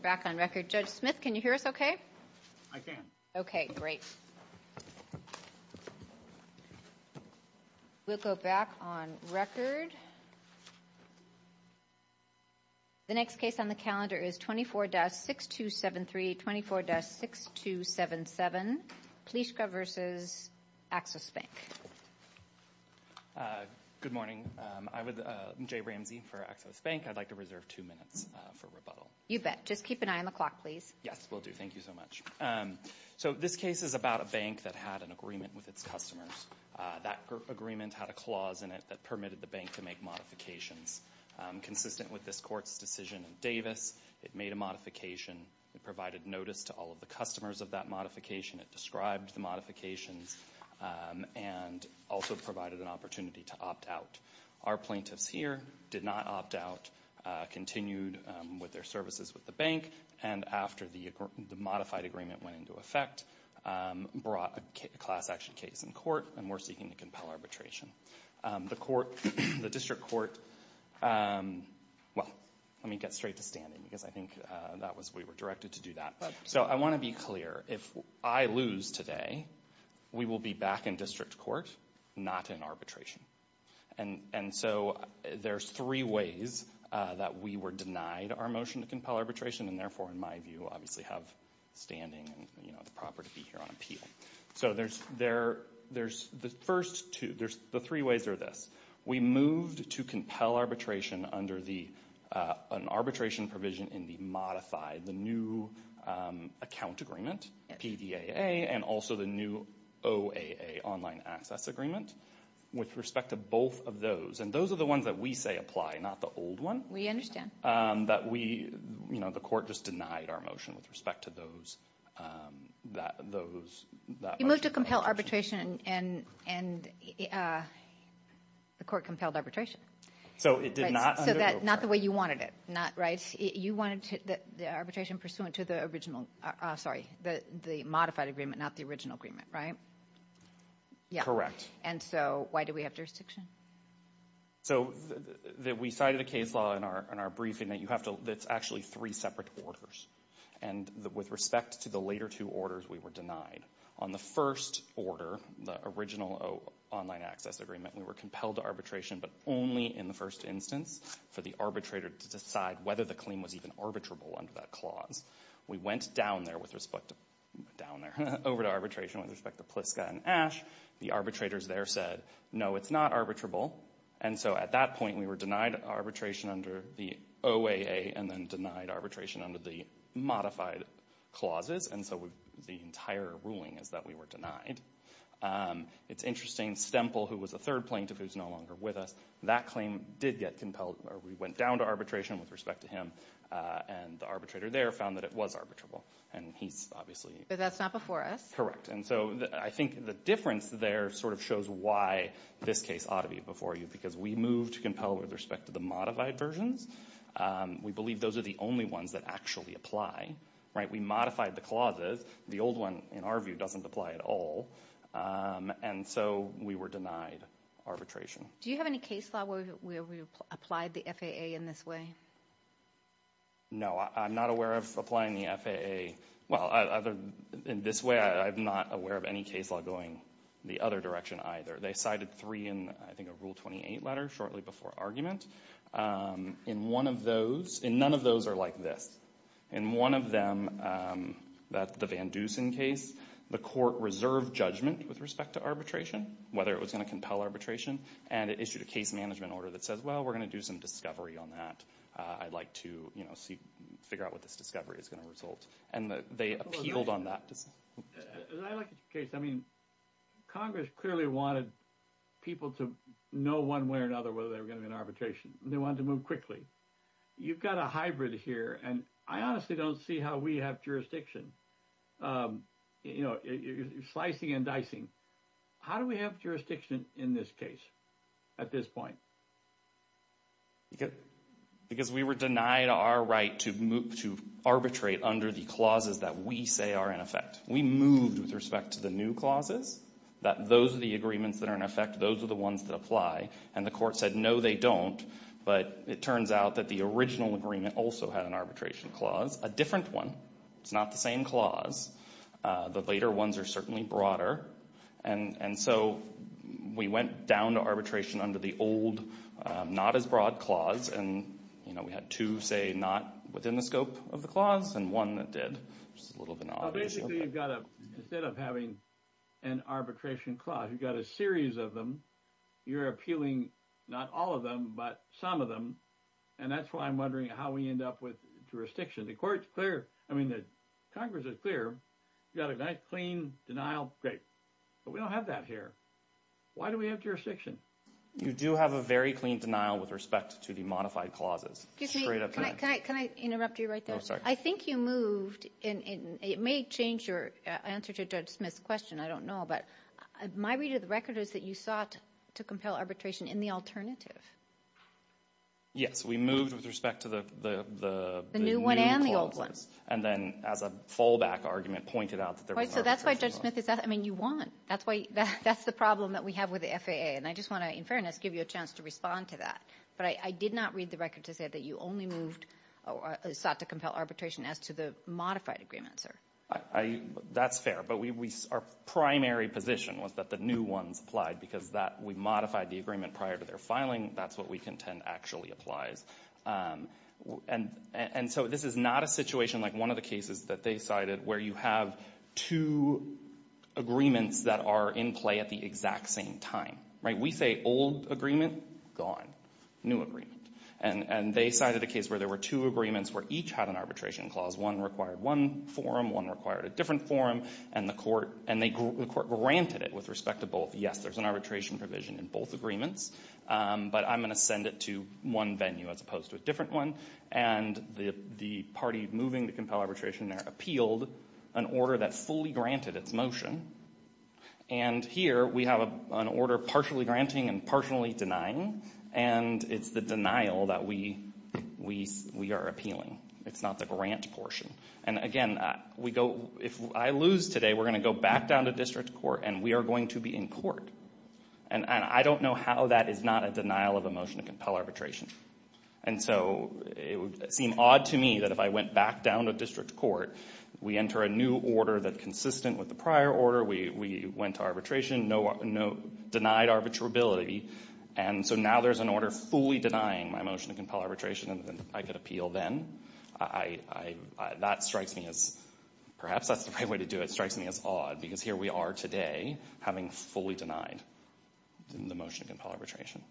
Back on record. Judge Smith, can you hear us okay? I can. Okay, great. We'll go back on record. The next case on the calendar is 24-6273, 24-6277, Pliszka v. Axos Bank. Good morning. I'm Jay Ramsey for Axos Bank. I'd like to reserve two minutes for rebuttal. You bet. Just keep an eye on the clock, please. Yes, we'll do. Thank you so much. So this case is about a bank that had an agreement with its customers. That agreement had a clause in it that permitted the bank to make modifications. Consistent with this court's decision in Davis, it made a modification. It provided notice to all of the customers of that modification. It described the modifications and also provided an opportunity to opt out. Our plaintiffs here did not opt out, continued with their services with the bank, and after the modified agreement went into effect, brought a class action case in court, and we're seeking to compel arbitration. The court, the district court, well, let me get straight to standing because I think that was, we were directed to do that. So I want to be clear. If I lose today, we will be back in court. There's three ways that we were denied our motion to compel arbitration and therefore, in my view, obviously have standing and, you know, it's proper to be here on appeal. So there's the first two, there's the three ways are this. We moved to compel arbitration under an arbitration provision in the modified, the new account agreement, PVAA, and also the new OAA, online access agreement, with respect to both of those. And those are the ones that we say apply, not the old one. We understand. That we, you know, the court just denied our motion with respect to those, that motion. You moved to compel arbitration and the court compelled arbitration. So it did not. So that's not the way you wanted it, right? You wanted the arbitration pursuant to the original, sorry, the modified agreement, not the original agreement, right? Correct. And so why do we have jurisdiction? So we cited a case law in our briefing that you have to, that's actually three separate orders. And with respect to the later two orders, we were denied. On the first order, the original online access agreement, we were compelled to arbitration, but only in the first instance for the arbitrator to decide whether the claim was even arbitrable under that clause. We went down there with respect to, down there, over to arbitration with respect to Pliska and Ash. The arbitrators there said, no, it's not arbitrable. And so at that point, we were denied arbitration under the OAA and then denied arbitration under the modified clauses. And so the entire ruling is that we were denied. It's interesting, Stemple, who was a third plaintiff, who's no longer with us, that claim did get compelled, or we went down to arbitration with respect to him. And the arbitrator there found that it was arbitrable. And he's obviously- But that's not before us. Correct. And so I think the difference there sort of shows why this case ought to be before you, because we moved to compel with respect to the modified versions. We believe those are the only ones that actually apply. We modified the clauses. The old one, in our view, doesn't apply at all. And so we were denied arbitration. Do you have any case law where we applied the FAA in this way? No. I'm not aware of applying the FAA- Well, in this way, I'm not aware of any case law going the other direction either. They cited three in, I think, a Rule 28 letter shortly before argument. In one of those- And none of those are like this. In one of them, the Van Dusen case, the court reserved judgment with respect to arbitration, whether it was going to compel arbitration. And it issued a case management order that says, well, we're going to do some on that. I'd like to figure out what this discovery is going to result. And they appealed on that. As I look at your case, I mean, Congress clearly wanted people to know one way or another whether they were going to be in arbitration. They wanted to move quickly. You've got a hybrid here, and I honestly don't see how we have jurisdiction. Slicing and dicing. How do we have jurisdiction in this case at this point? Because we were denied our right to arbitrate under the clauses that we say are in effect. We moved with respect to the new clauses, that those are the agreements that are in effect. Those are the ones that apply. And the court said, no, they don't. But it turns out that the original agreement also had an arbitration clause, a different one. It's not the same clause. The later ones are certainly broader. And so we went down to arbitration under the old, not as broad clause. And we had two, say, not within the scope of the clause and one that did. It's a little bit odd. Basically, you've got to, instead of having an arbitration clause, you've got a series of them. You're appealing not all of them, but some of them. And that's why I'm wondering how we end up with jurisdiction. The court's clear. I mean, the Congress is clear. You've got a nice, clean denial. Great. But we don't have that here. Why do we have jurisdiction? You do have a very clean denial with respect to the modified clauses. Excuse me. Can I interrupt you right there? I think you moved in. It may change your answer to Judge Smith's question. I don't know. But my read of the record is that you sought to compel arbitration in the alternative. Yes. We moved with respect to the new clauses. The new one and the old one. And then as a fallback argument, pointed out that there was arbitration clause. Right. So that's why Judge Smith is asking. I mean, you won. That's why that's the problem that we have with the FAA. And I just want to, in fairness, give you a chance to respond to that. But I did not read the record to say that you only moved or sought to compel arbitration as to the modified agreement, sir. I — that's fair. But we — our primary position was that the new ones applied, because that — we modified the agreement prior to their filing. That's what we contend actually applies. And so this is not a situation like one of the cases that they cited where you have two agreements that are in play at the exact same time. Right. We say old agreement, gone. New agreement. And they cited a case where there were two agreements where each had an arbitration clause. One required one form. One required a different form. And the court — and the court granted it with respect to both. Yes, there's an arbitration provision in both agreements. But I'm going to send it to one venue as opposed to a different one. And the party moving to compel arbitration there appealed an order that fully granted its motion. And here we have an order partially granting and partially denying. And it's the denial that we — we are appealing. It's not the grant portion. And again, we go — if I lose today, we're going to go back down to district court, and we are going to be in court. And I don't know how that is not a denial of a motion to compel arbitration. And so it would seem odd to me that if I went back down to district court, we enter a new order that's consistent with the prior order. We went to arbitration. No denied arbitrability. And so now there's an order fully denying my motion to compel then. I — that strikes me as — perhaps that's the right way to do it — strikes me as odd, because here we are today having fully denied the motion to compel arbitration.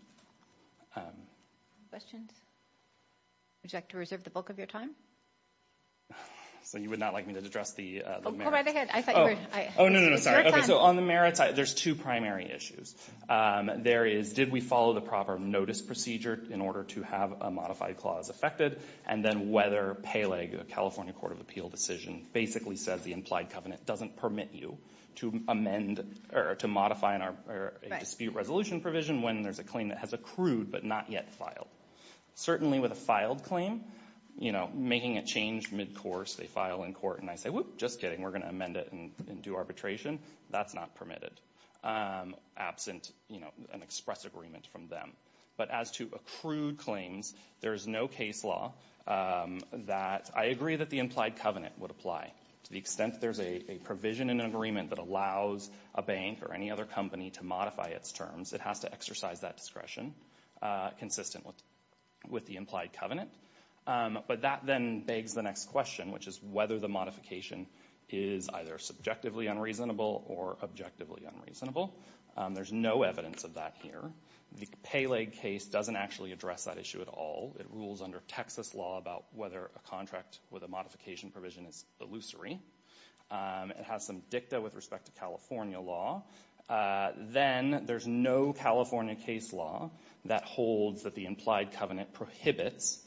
Questions? Would you like to reserve the bulk of your time? So you would not like me to address the merits? Go right ahead. I thought you were — Oh, no, no, sorry. Okay, so on the merits, there's two primary issues. There is, did we follow the proper notice procedure in order to have a modified clause affected? And then whether Peleg, the California Court of Appeal decision, basically says the implied covenant doesn't permit you to amend or to modify a dispute resolution provision when there's a claim that has accrued but not yet filed. Certainly with a filed claim, you know, making a change mid-course, they file in court, and I say, whoop, just kidding, we're going to amend it and do arbitration. That's not permitted, absent, you know, an express agreement from them. But as to accrued claims, there is no case law that — I agree that the implied covenant would apply. To the extent there's a provision in an agreement that allows a bank or any other company to modify its terms, it has to exercise that discretion consistent with the implied covenant. But that then begs the next question, which is whether the modification is either subjectively unreasonable or objectively unreasonable. There's no evidence of that here. The Peleg case doesn't actually address that issue at all. It rules under Texas law about whether a contract with a modification provision is illusory. It has some dicta with respect to California law. Then there's no California case law that holds that the implied covenant prohibits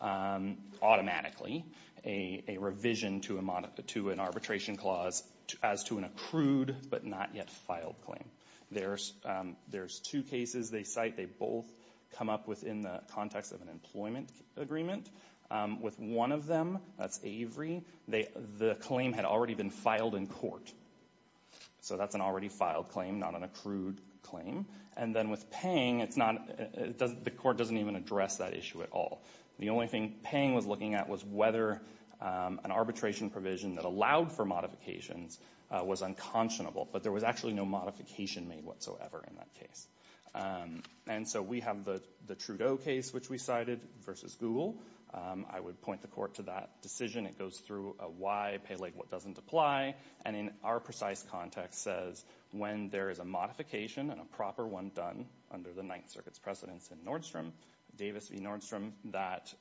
automatically a revision to an arbitration clause as to an accrued but not yet filed claim. There's two cases they cite. They both come up within the context of an employment agreement. With one of them, that's Avery, the claim had already been filed in court. So that's an already filed claim, not an accrued claim. And then with Pang, it's not — the court doesn't even address that issue at all. The only thing Pang was looking at was whether an arbitration provision that allowed for modifications was unconscionable. But there was actually no modification made whatsoever in that case. And so we have the Trudeau case which we cited versus Google. I would point the court to that decision. It goes through a why Peleg what doesn't apply. And in our precise context says when there is a modification and a proper one done under the Ninth Circuit's precedence in Nordstrom, Davis v. Nordstrom, that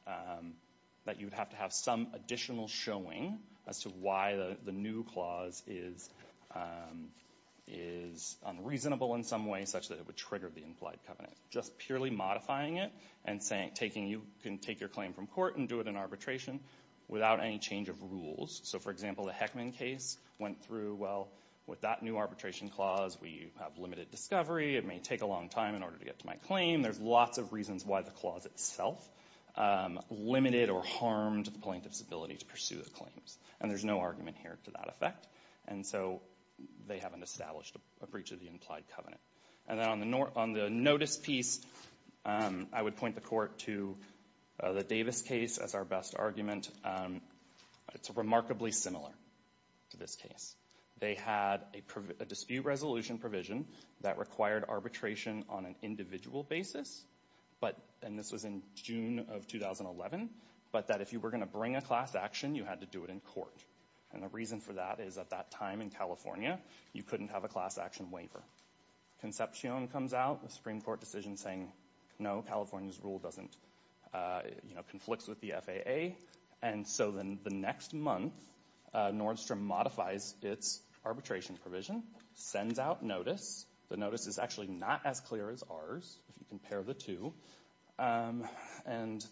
you would have to have some additional showing as to why the new clause is unreasonable in some way such that it would trigger the implied covenant. Just purely modifying it and saying you can take your claim from court and do it in arbitration without any change of rules. So for example, the Heckman case went through, well, with that new arbitration clause, we have limited discovery. It may take a long time in order to get to my claim. There's lots of reasons why the clause itself limited or harmed the plaintiff's ability to pursue the claims. And there's no argument here to that effect. And so they haven't established a breach of the implied covenant. And then on the notice piece, I would point the court to the Davis case as our best argument. It's remarkably similar to this case. They had a dispute resolution provision that required arbitration on an individual basis. But, and this was in June of 2011, but that if you were going to bring a class action, you had to do it in court. And the reason for that is at that time in California, you couldn't have a class action waiver. Concepcion comes out, the Supreme Court decision saying, no, California's rule doesn't, you know, conflicts with the FAA. And so then the next month, Nordstrom modifies its arbitration provision, sends out notice. The notice is actually not as clear as ours, if you compare the two. And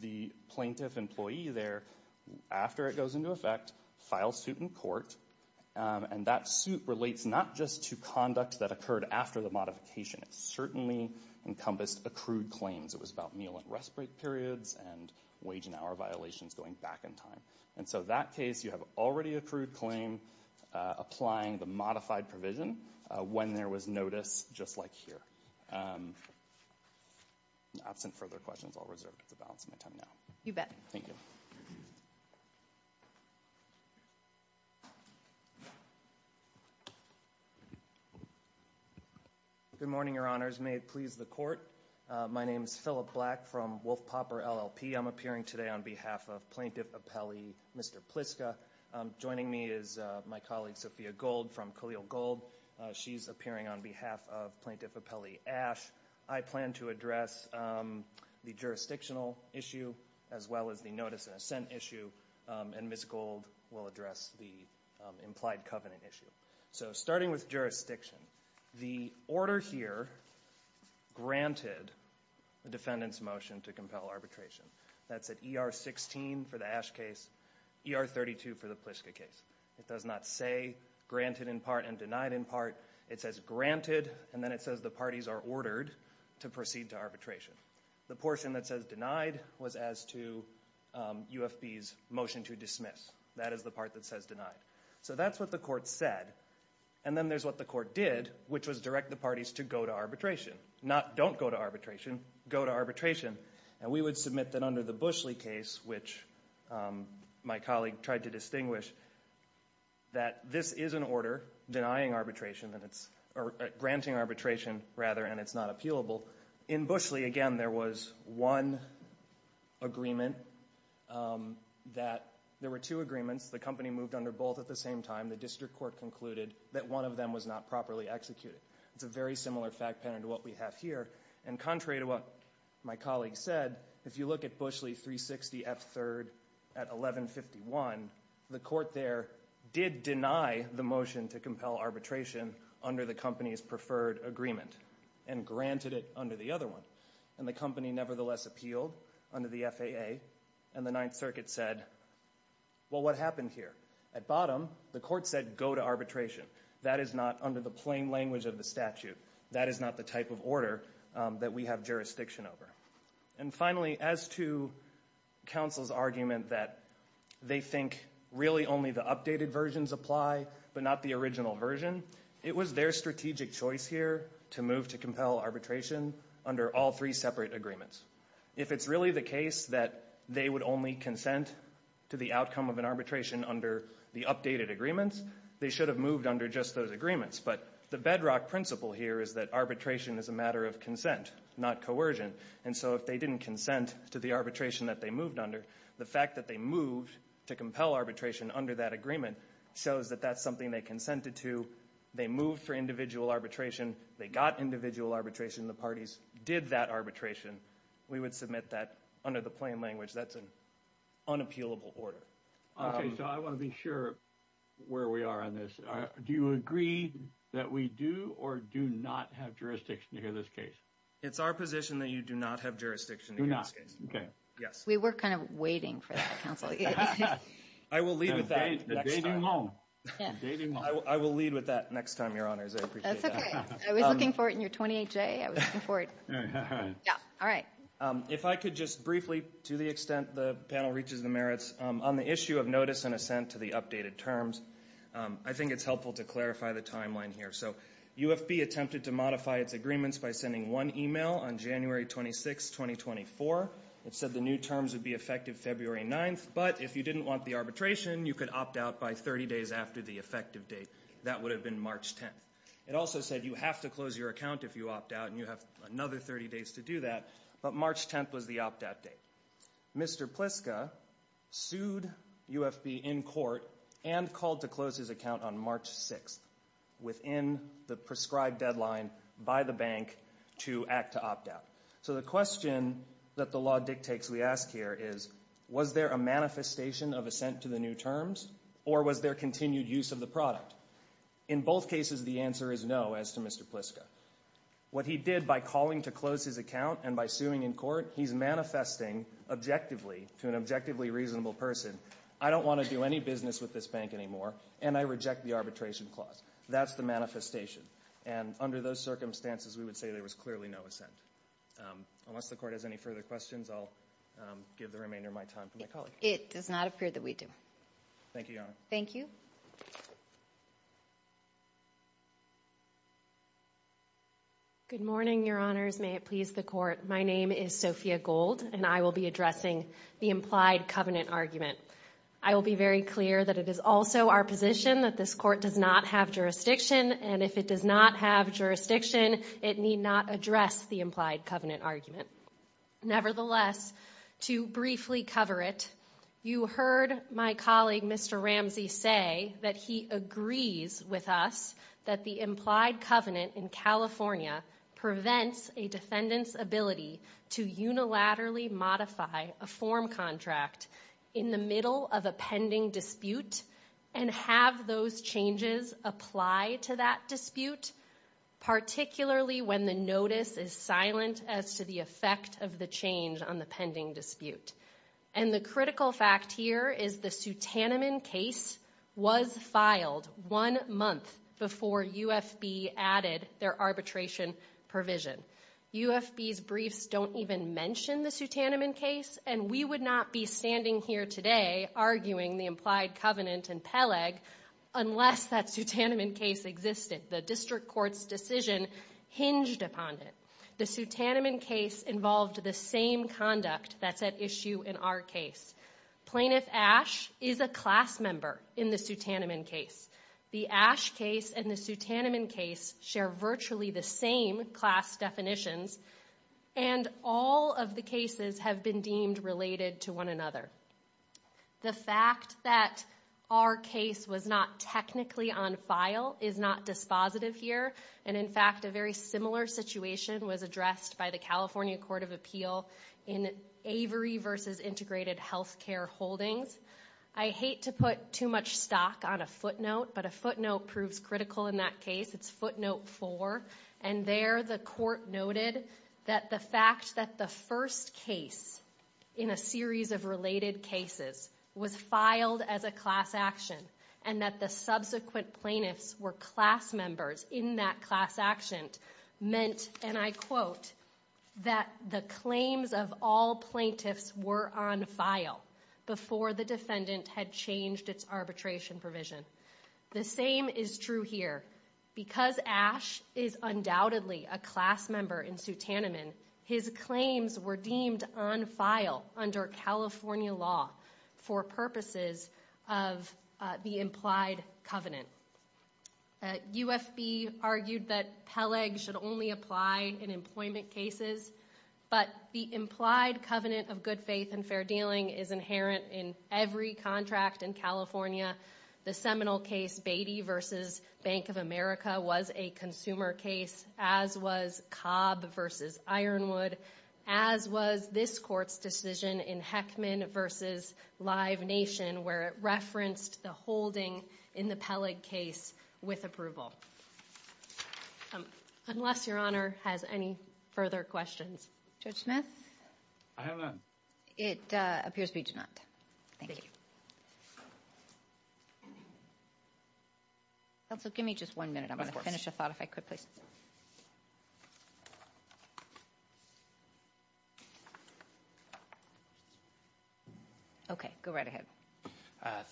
the plaintiff employee there, after it goes into effect, files suit in court. And that suit relates not just to conduct that occurred after the modification. It certainly encompassed accrued claims. It was about meal and rest break periods and wage and hour violations going back in time. And so that case, you have already accrued claim applying the modified provision when there was notice, just like here. Absent further questions, I'll reserve the balance of my time now. You bet. Thank you. Good morning, your honors. May it please the court. My name is Philip Black from Wolf Popper LLP. I'm appearing today on behalf of Plaintiff Appellee Mr. Pliska. Joining me is my colleague Sophia Gold from Khalil Gold. She's appearing on behalf of Plaintiff Appellee Ash. I plan to address the jurisdictional issue as well as the notice and assent issue. And Ms. Gold will address the implied covenant issue. So starting with jurisdiction, the order here granted the defendant's motion to compel arbitration. That's at ER 16 for the Ash case, ER 32 for the Pliska case. It does not say granted in part and denied in part. It says granted and then it says the parties are ordered to proceed to arbitration. The portion that says denied was as to UFB's motion to dismiss. That is the part that says denied. So that's what the court said. And then there's what the court did, which was direct the parties to go to arbitration. Not don't go to arbitration, go to arbitration. And we would submit that under the Bushley case, which my colleague tried to distinguish, that this is an order denying arbitration, granting arbitration rather, and it's not appealable. In Bushley, again, there was one agreement that there were two agreements. The company moved under both at the same time. The district court concluded that one of them was not properly executed. It's a very similar fact pattern to what we have here. And contrary to what my colleague said, if you look at Bushley 360 F3rd at 1151, the court there did deny the motion to compel arbitration under the company's preferred agreement and granted it under the other one. And the company nevertheless appealed under the FAA and the Ninth Circuit said, well, what happened here? At bottom, the court said go to arbitration. That is not under the plain language of the statute. That is not the type of order that we have jurisdiction over. And finally, as to counsel's argument that they think really only the updated versions apply but not the original version, it was their strategic choice here to move to compel arbitration under all three separate agreements. If it's really the case that they would only consent to the outcome of an arbitration under the updated agreements, they should have moved under just those agreements. But the bedrock principle here is that arbitration is a matter of consent, not coercion. And so if they didn't consent to the arbitration that they moved under, the fact that they moved to compel arbitration under that agreement shows that that's something they consented to. They moved for individual arbitration. They got individual arbitration. The parties did that arbitration. We would submit that under the plain language. That's an unappealable order. Okay. So I want to be sure where we are on this. Do you agree that we do or do not have jurisdiction to hear this case? It's our position that you do not have jurisdiction to hear this case. Do not. Okay. Yes. We were kind of waiting for that, counsel. I will lead with that next time. I'm dating long. I'm dating long. I will lead with that next time, Your Honors. I appreciate that. That's okay. I was looking forward to your 28-J. I was looking forward. Yeah. All right. If I could just briefly, to the extent the panel reaches the merits, on the issue of notice and assent to the updated terms, I think it's helpful to clarify the timeline here. So UFB attempted to modify its agreements by sending one email on January 26, 2024. It said the new terms would be effective February 9th. But if you didn't want the arbitration, you could opt out by 30 days after the effective date. That would have been March 10th. It also said you have to close your account if you opt out and you have another 30 days to do that. But March 10th was the opt-out date. Mr. Pliska sued UFB in court and called to close his account on March 6th, within the prescribed deadline by the bank to act to opt out. So the question that the law dictates we ask here is, was there a manifestation of assent to the new terms? Or was there continued use of the product? In both cases, the answer is no, as to Mr. Pliska. What he did by calling to close his account and by suing in court, he's manifesting objectively to an objectively reasonable person, I don't want to do any business with this bank anymore, and I reject the arbitration clause. That's the manifestation. And under those circumstances, we would say there was clearly no assent. Unless the Court has any further questions, I'll give the remainder of my time to my colleague. It does not appear that we do. Thank you, Your Honor. Thank you. Good morning, Your Honors. May it please the Court. My name is Sophia Gold, and I will be addressing the implied covenant argument. I will be very clear that it is also our position that this Court does not have jurisdiction, and if it does not have jurisdiction, it need not address the implied covenant argument. Nevertheless, to briefly cover it, you heard my colleague Mr. Ramsey say that he agrees with us that the implied covenant in California prevents a defendant's ability to unilaterally modify a form contract in the middle of a pending dispute and have those changes apply to that dispute, particularly when the notice is silent as to the effect of the change on the pending dispute. And the critical fact here is the Sutanamon case was filed one month before UFB added their arbitration provision. UFB's briefs don't even mention the Sutanamon case, and we would not be standing here today arguing the implied covenant in Peleg unless that Sutanamon case existed. The District Court's decision hinged upon it. The Sutanamon case involved the same conduct that's at issue in our case. Plaintiff Ash is a class member in the Sutanamon case. The Ash case and the Sutanamon case share virtually the same class definitions, and all of the cases have been deemed related to one another. The fact that our case was not technically on file is not dispositive here, and in fact, a very similar situation was addressed by the California Court of Appeal in Avery v. Integrated Healthcare Holdings. I hate to put too much stock on a footnote, but a footnote proves critical in that case. It's footnote four, and there the court noted that the fact that the first case in a series of related cases was filed as a class action, and that the subsequent plaintiffs were class members in that class action meant, and I quote, that the claims of all plaintiffs were on file before the defendant had changed its arbitration provision. The same is true here. Because Ash is undoubtedly a class member in Sutanamon, his claims were deemed on file under California law for purposes of the implied covenant. UFB argued that Peleg should only apply in employment cases, but the implied covenant of good faith and fair dealing is inherent in every contract in California. The seminal case, v. Bank of America, was a consumer case, as was Cobb v. Ironwood, as was this court's decision in Heckman v. Live Nation, where it referenced the holding in the Peleg case with approval. Unless Your Honor has any further questions. Judge Smith? I have none. It appears we do not. Thank you. Counsel, give me just one minute. I'm going to finish a thought if I could, please. Okay, go right ahead.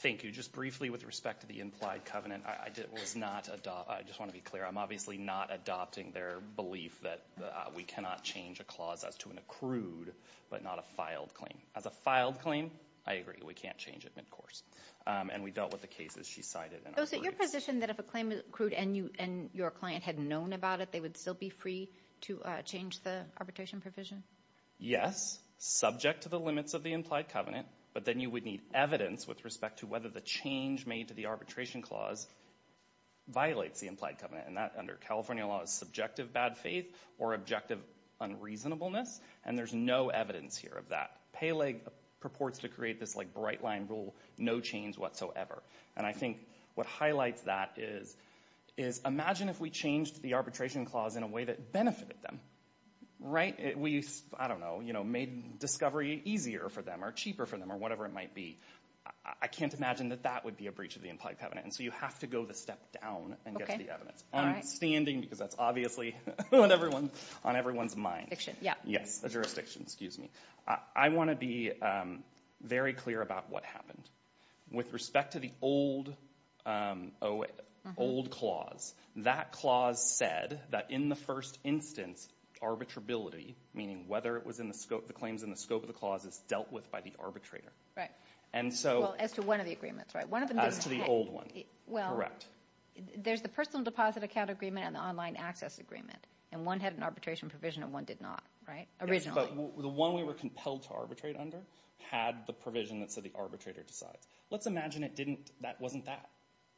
Thank you. Just briefly with respect to the implied covenant, I just want to be clear, I'm obviously not adopting their belief that we cannot change a clause as to an accrued, but not a filed claim. As a filed claim, I agree, we can't change it mid-course. And we dealt with the cases she cited. You're positioned that if a claim is accrued and your client had known about it, they would still be free to change the arbitration provision? Yes, subject to the limits of the implied covenant, but then you would need evidence with respect to whether the change made to the arbitration clause violates the implied covenant. And that, under California law, is subjective bad faith or objective unreasonableness, and there's no evidence here of that. Peleg purports to create this bright-line rule, no change whatsoever. And I think what highlights that is, imagine if we changed the arbitration clause in a way that benefited them, right? I don't know, made discovery easier for them, or cheaper for them, or whatever it might be. I can't imagine that that would be a breach of the implied covenant. And so you have to go the step down and get the evidence. I'm standing, because that's obviously on everyone's mind. Yes, a jurisdiction, excuse me. I want to be very clear about what happened. With respect to the old clause, that clause said that in the first instance, arbitrability, meaning whether it was in the scope, the claims in the scope of the clause, is dealt with by the arbitrator. Right, well, as to one of the agreements, right? As to the old one, correct. There's the personal deposit account agreement and the online access agreement, and one had an arbitration provision and one did not, right? Originally. Yes, but the one we were compelled to arbitrate under had the provision that said the arbitrator decides. Let's imagine it didn't, that wasn't that,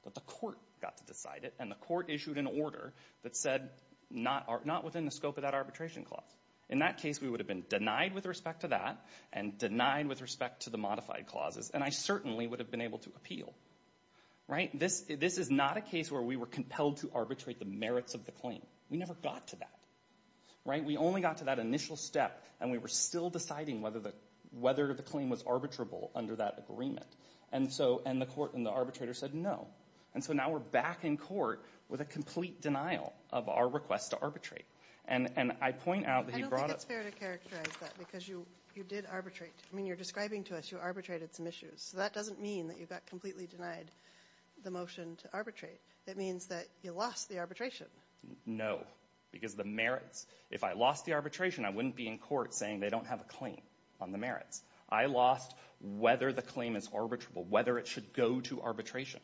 but the court got to decide it, and the court issued an order that said not within the scope of that arbitration clause. In that case, we would have been denied with respect to that, and denied with respect to the modified clauses, and I certainly would have been able to appeal. Right, this is not a case where we were compelled to arbitrate the merits of the claim. We never got to that, right? We only got to that initial step, and we were still deciding whether the claim was arbitrable under that agreement. And so, and the court and the arbitrator said no. And so now we're back in court with a complete denial of our request to arbitrate. And I point out that he brought up- I don't think it's fair to characterize that, because you did arbitrate. I mean, you're describing to us you arbitrated some issues. So that doesn't mean that you got completely denied the motion to arbitrate. It means that you lost the arbitration. No, because the merits. If I lost the arbitration, I wouldn't be in court saying they don't have a claim on the merits. I lost whether the claim is arbitrable, whether it should go to arbitration.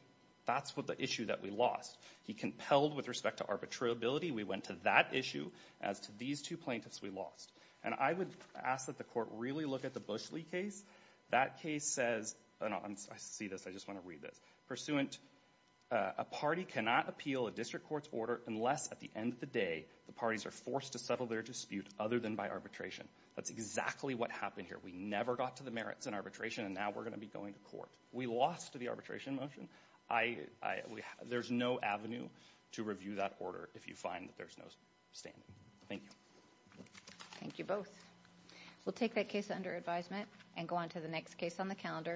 That's what the issue that we lost. He compelled with respect to arbitrability. We went to that issue. As to these two plaintiffs, we lost. And I would ask that the court really look at the Bush-Lee case. That case says- I see this. I just want to read this. Pursuant, a party cannot appeal a district court's order unless at the end of the day the parties are forced to settle their dispute other than by arbitration. That's exactly what happened here. We never got to the merits in arbitration, and now we're going to be going to court. We lost the arbitration motion. There's no avenue to review that order if you find that there's no standing. Thank you. Thank you both. We'll take that case under advisement and go on to the next case on the calendar.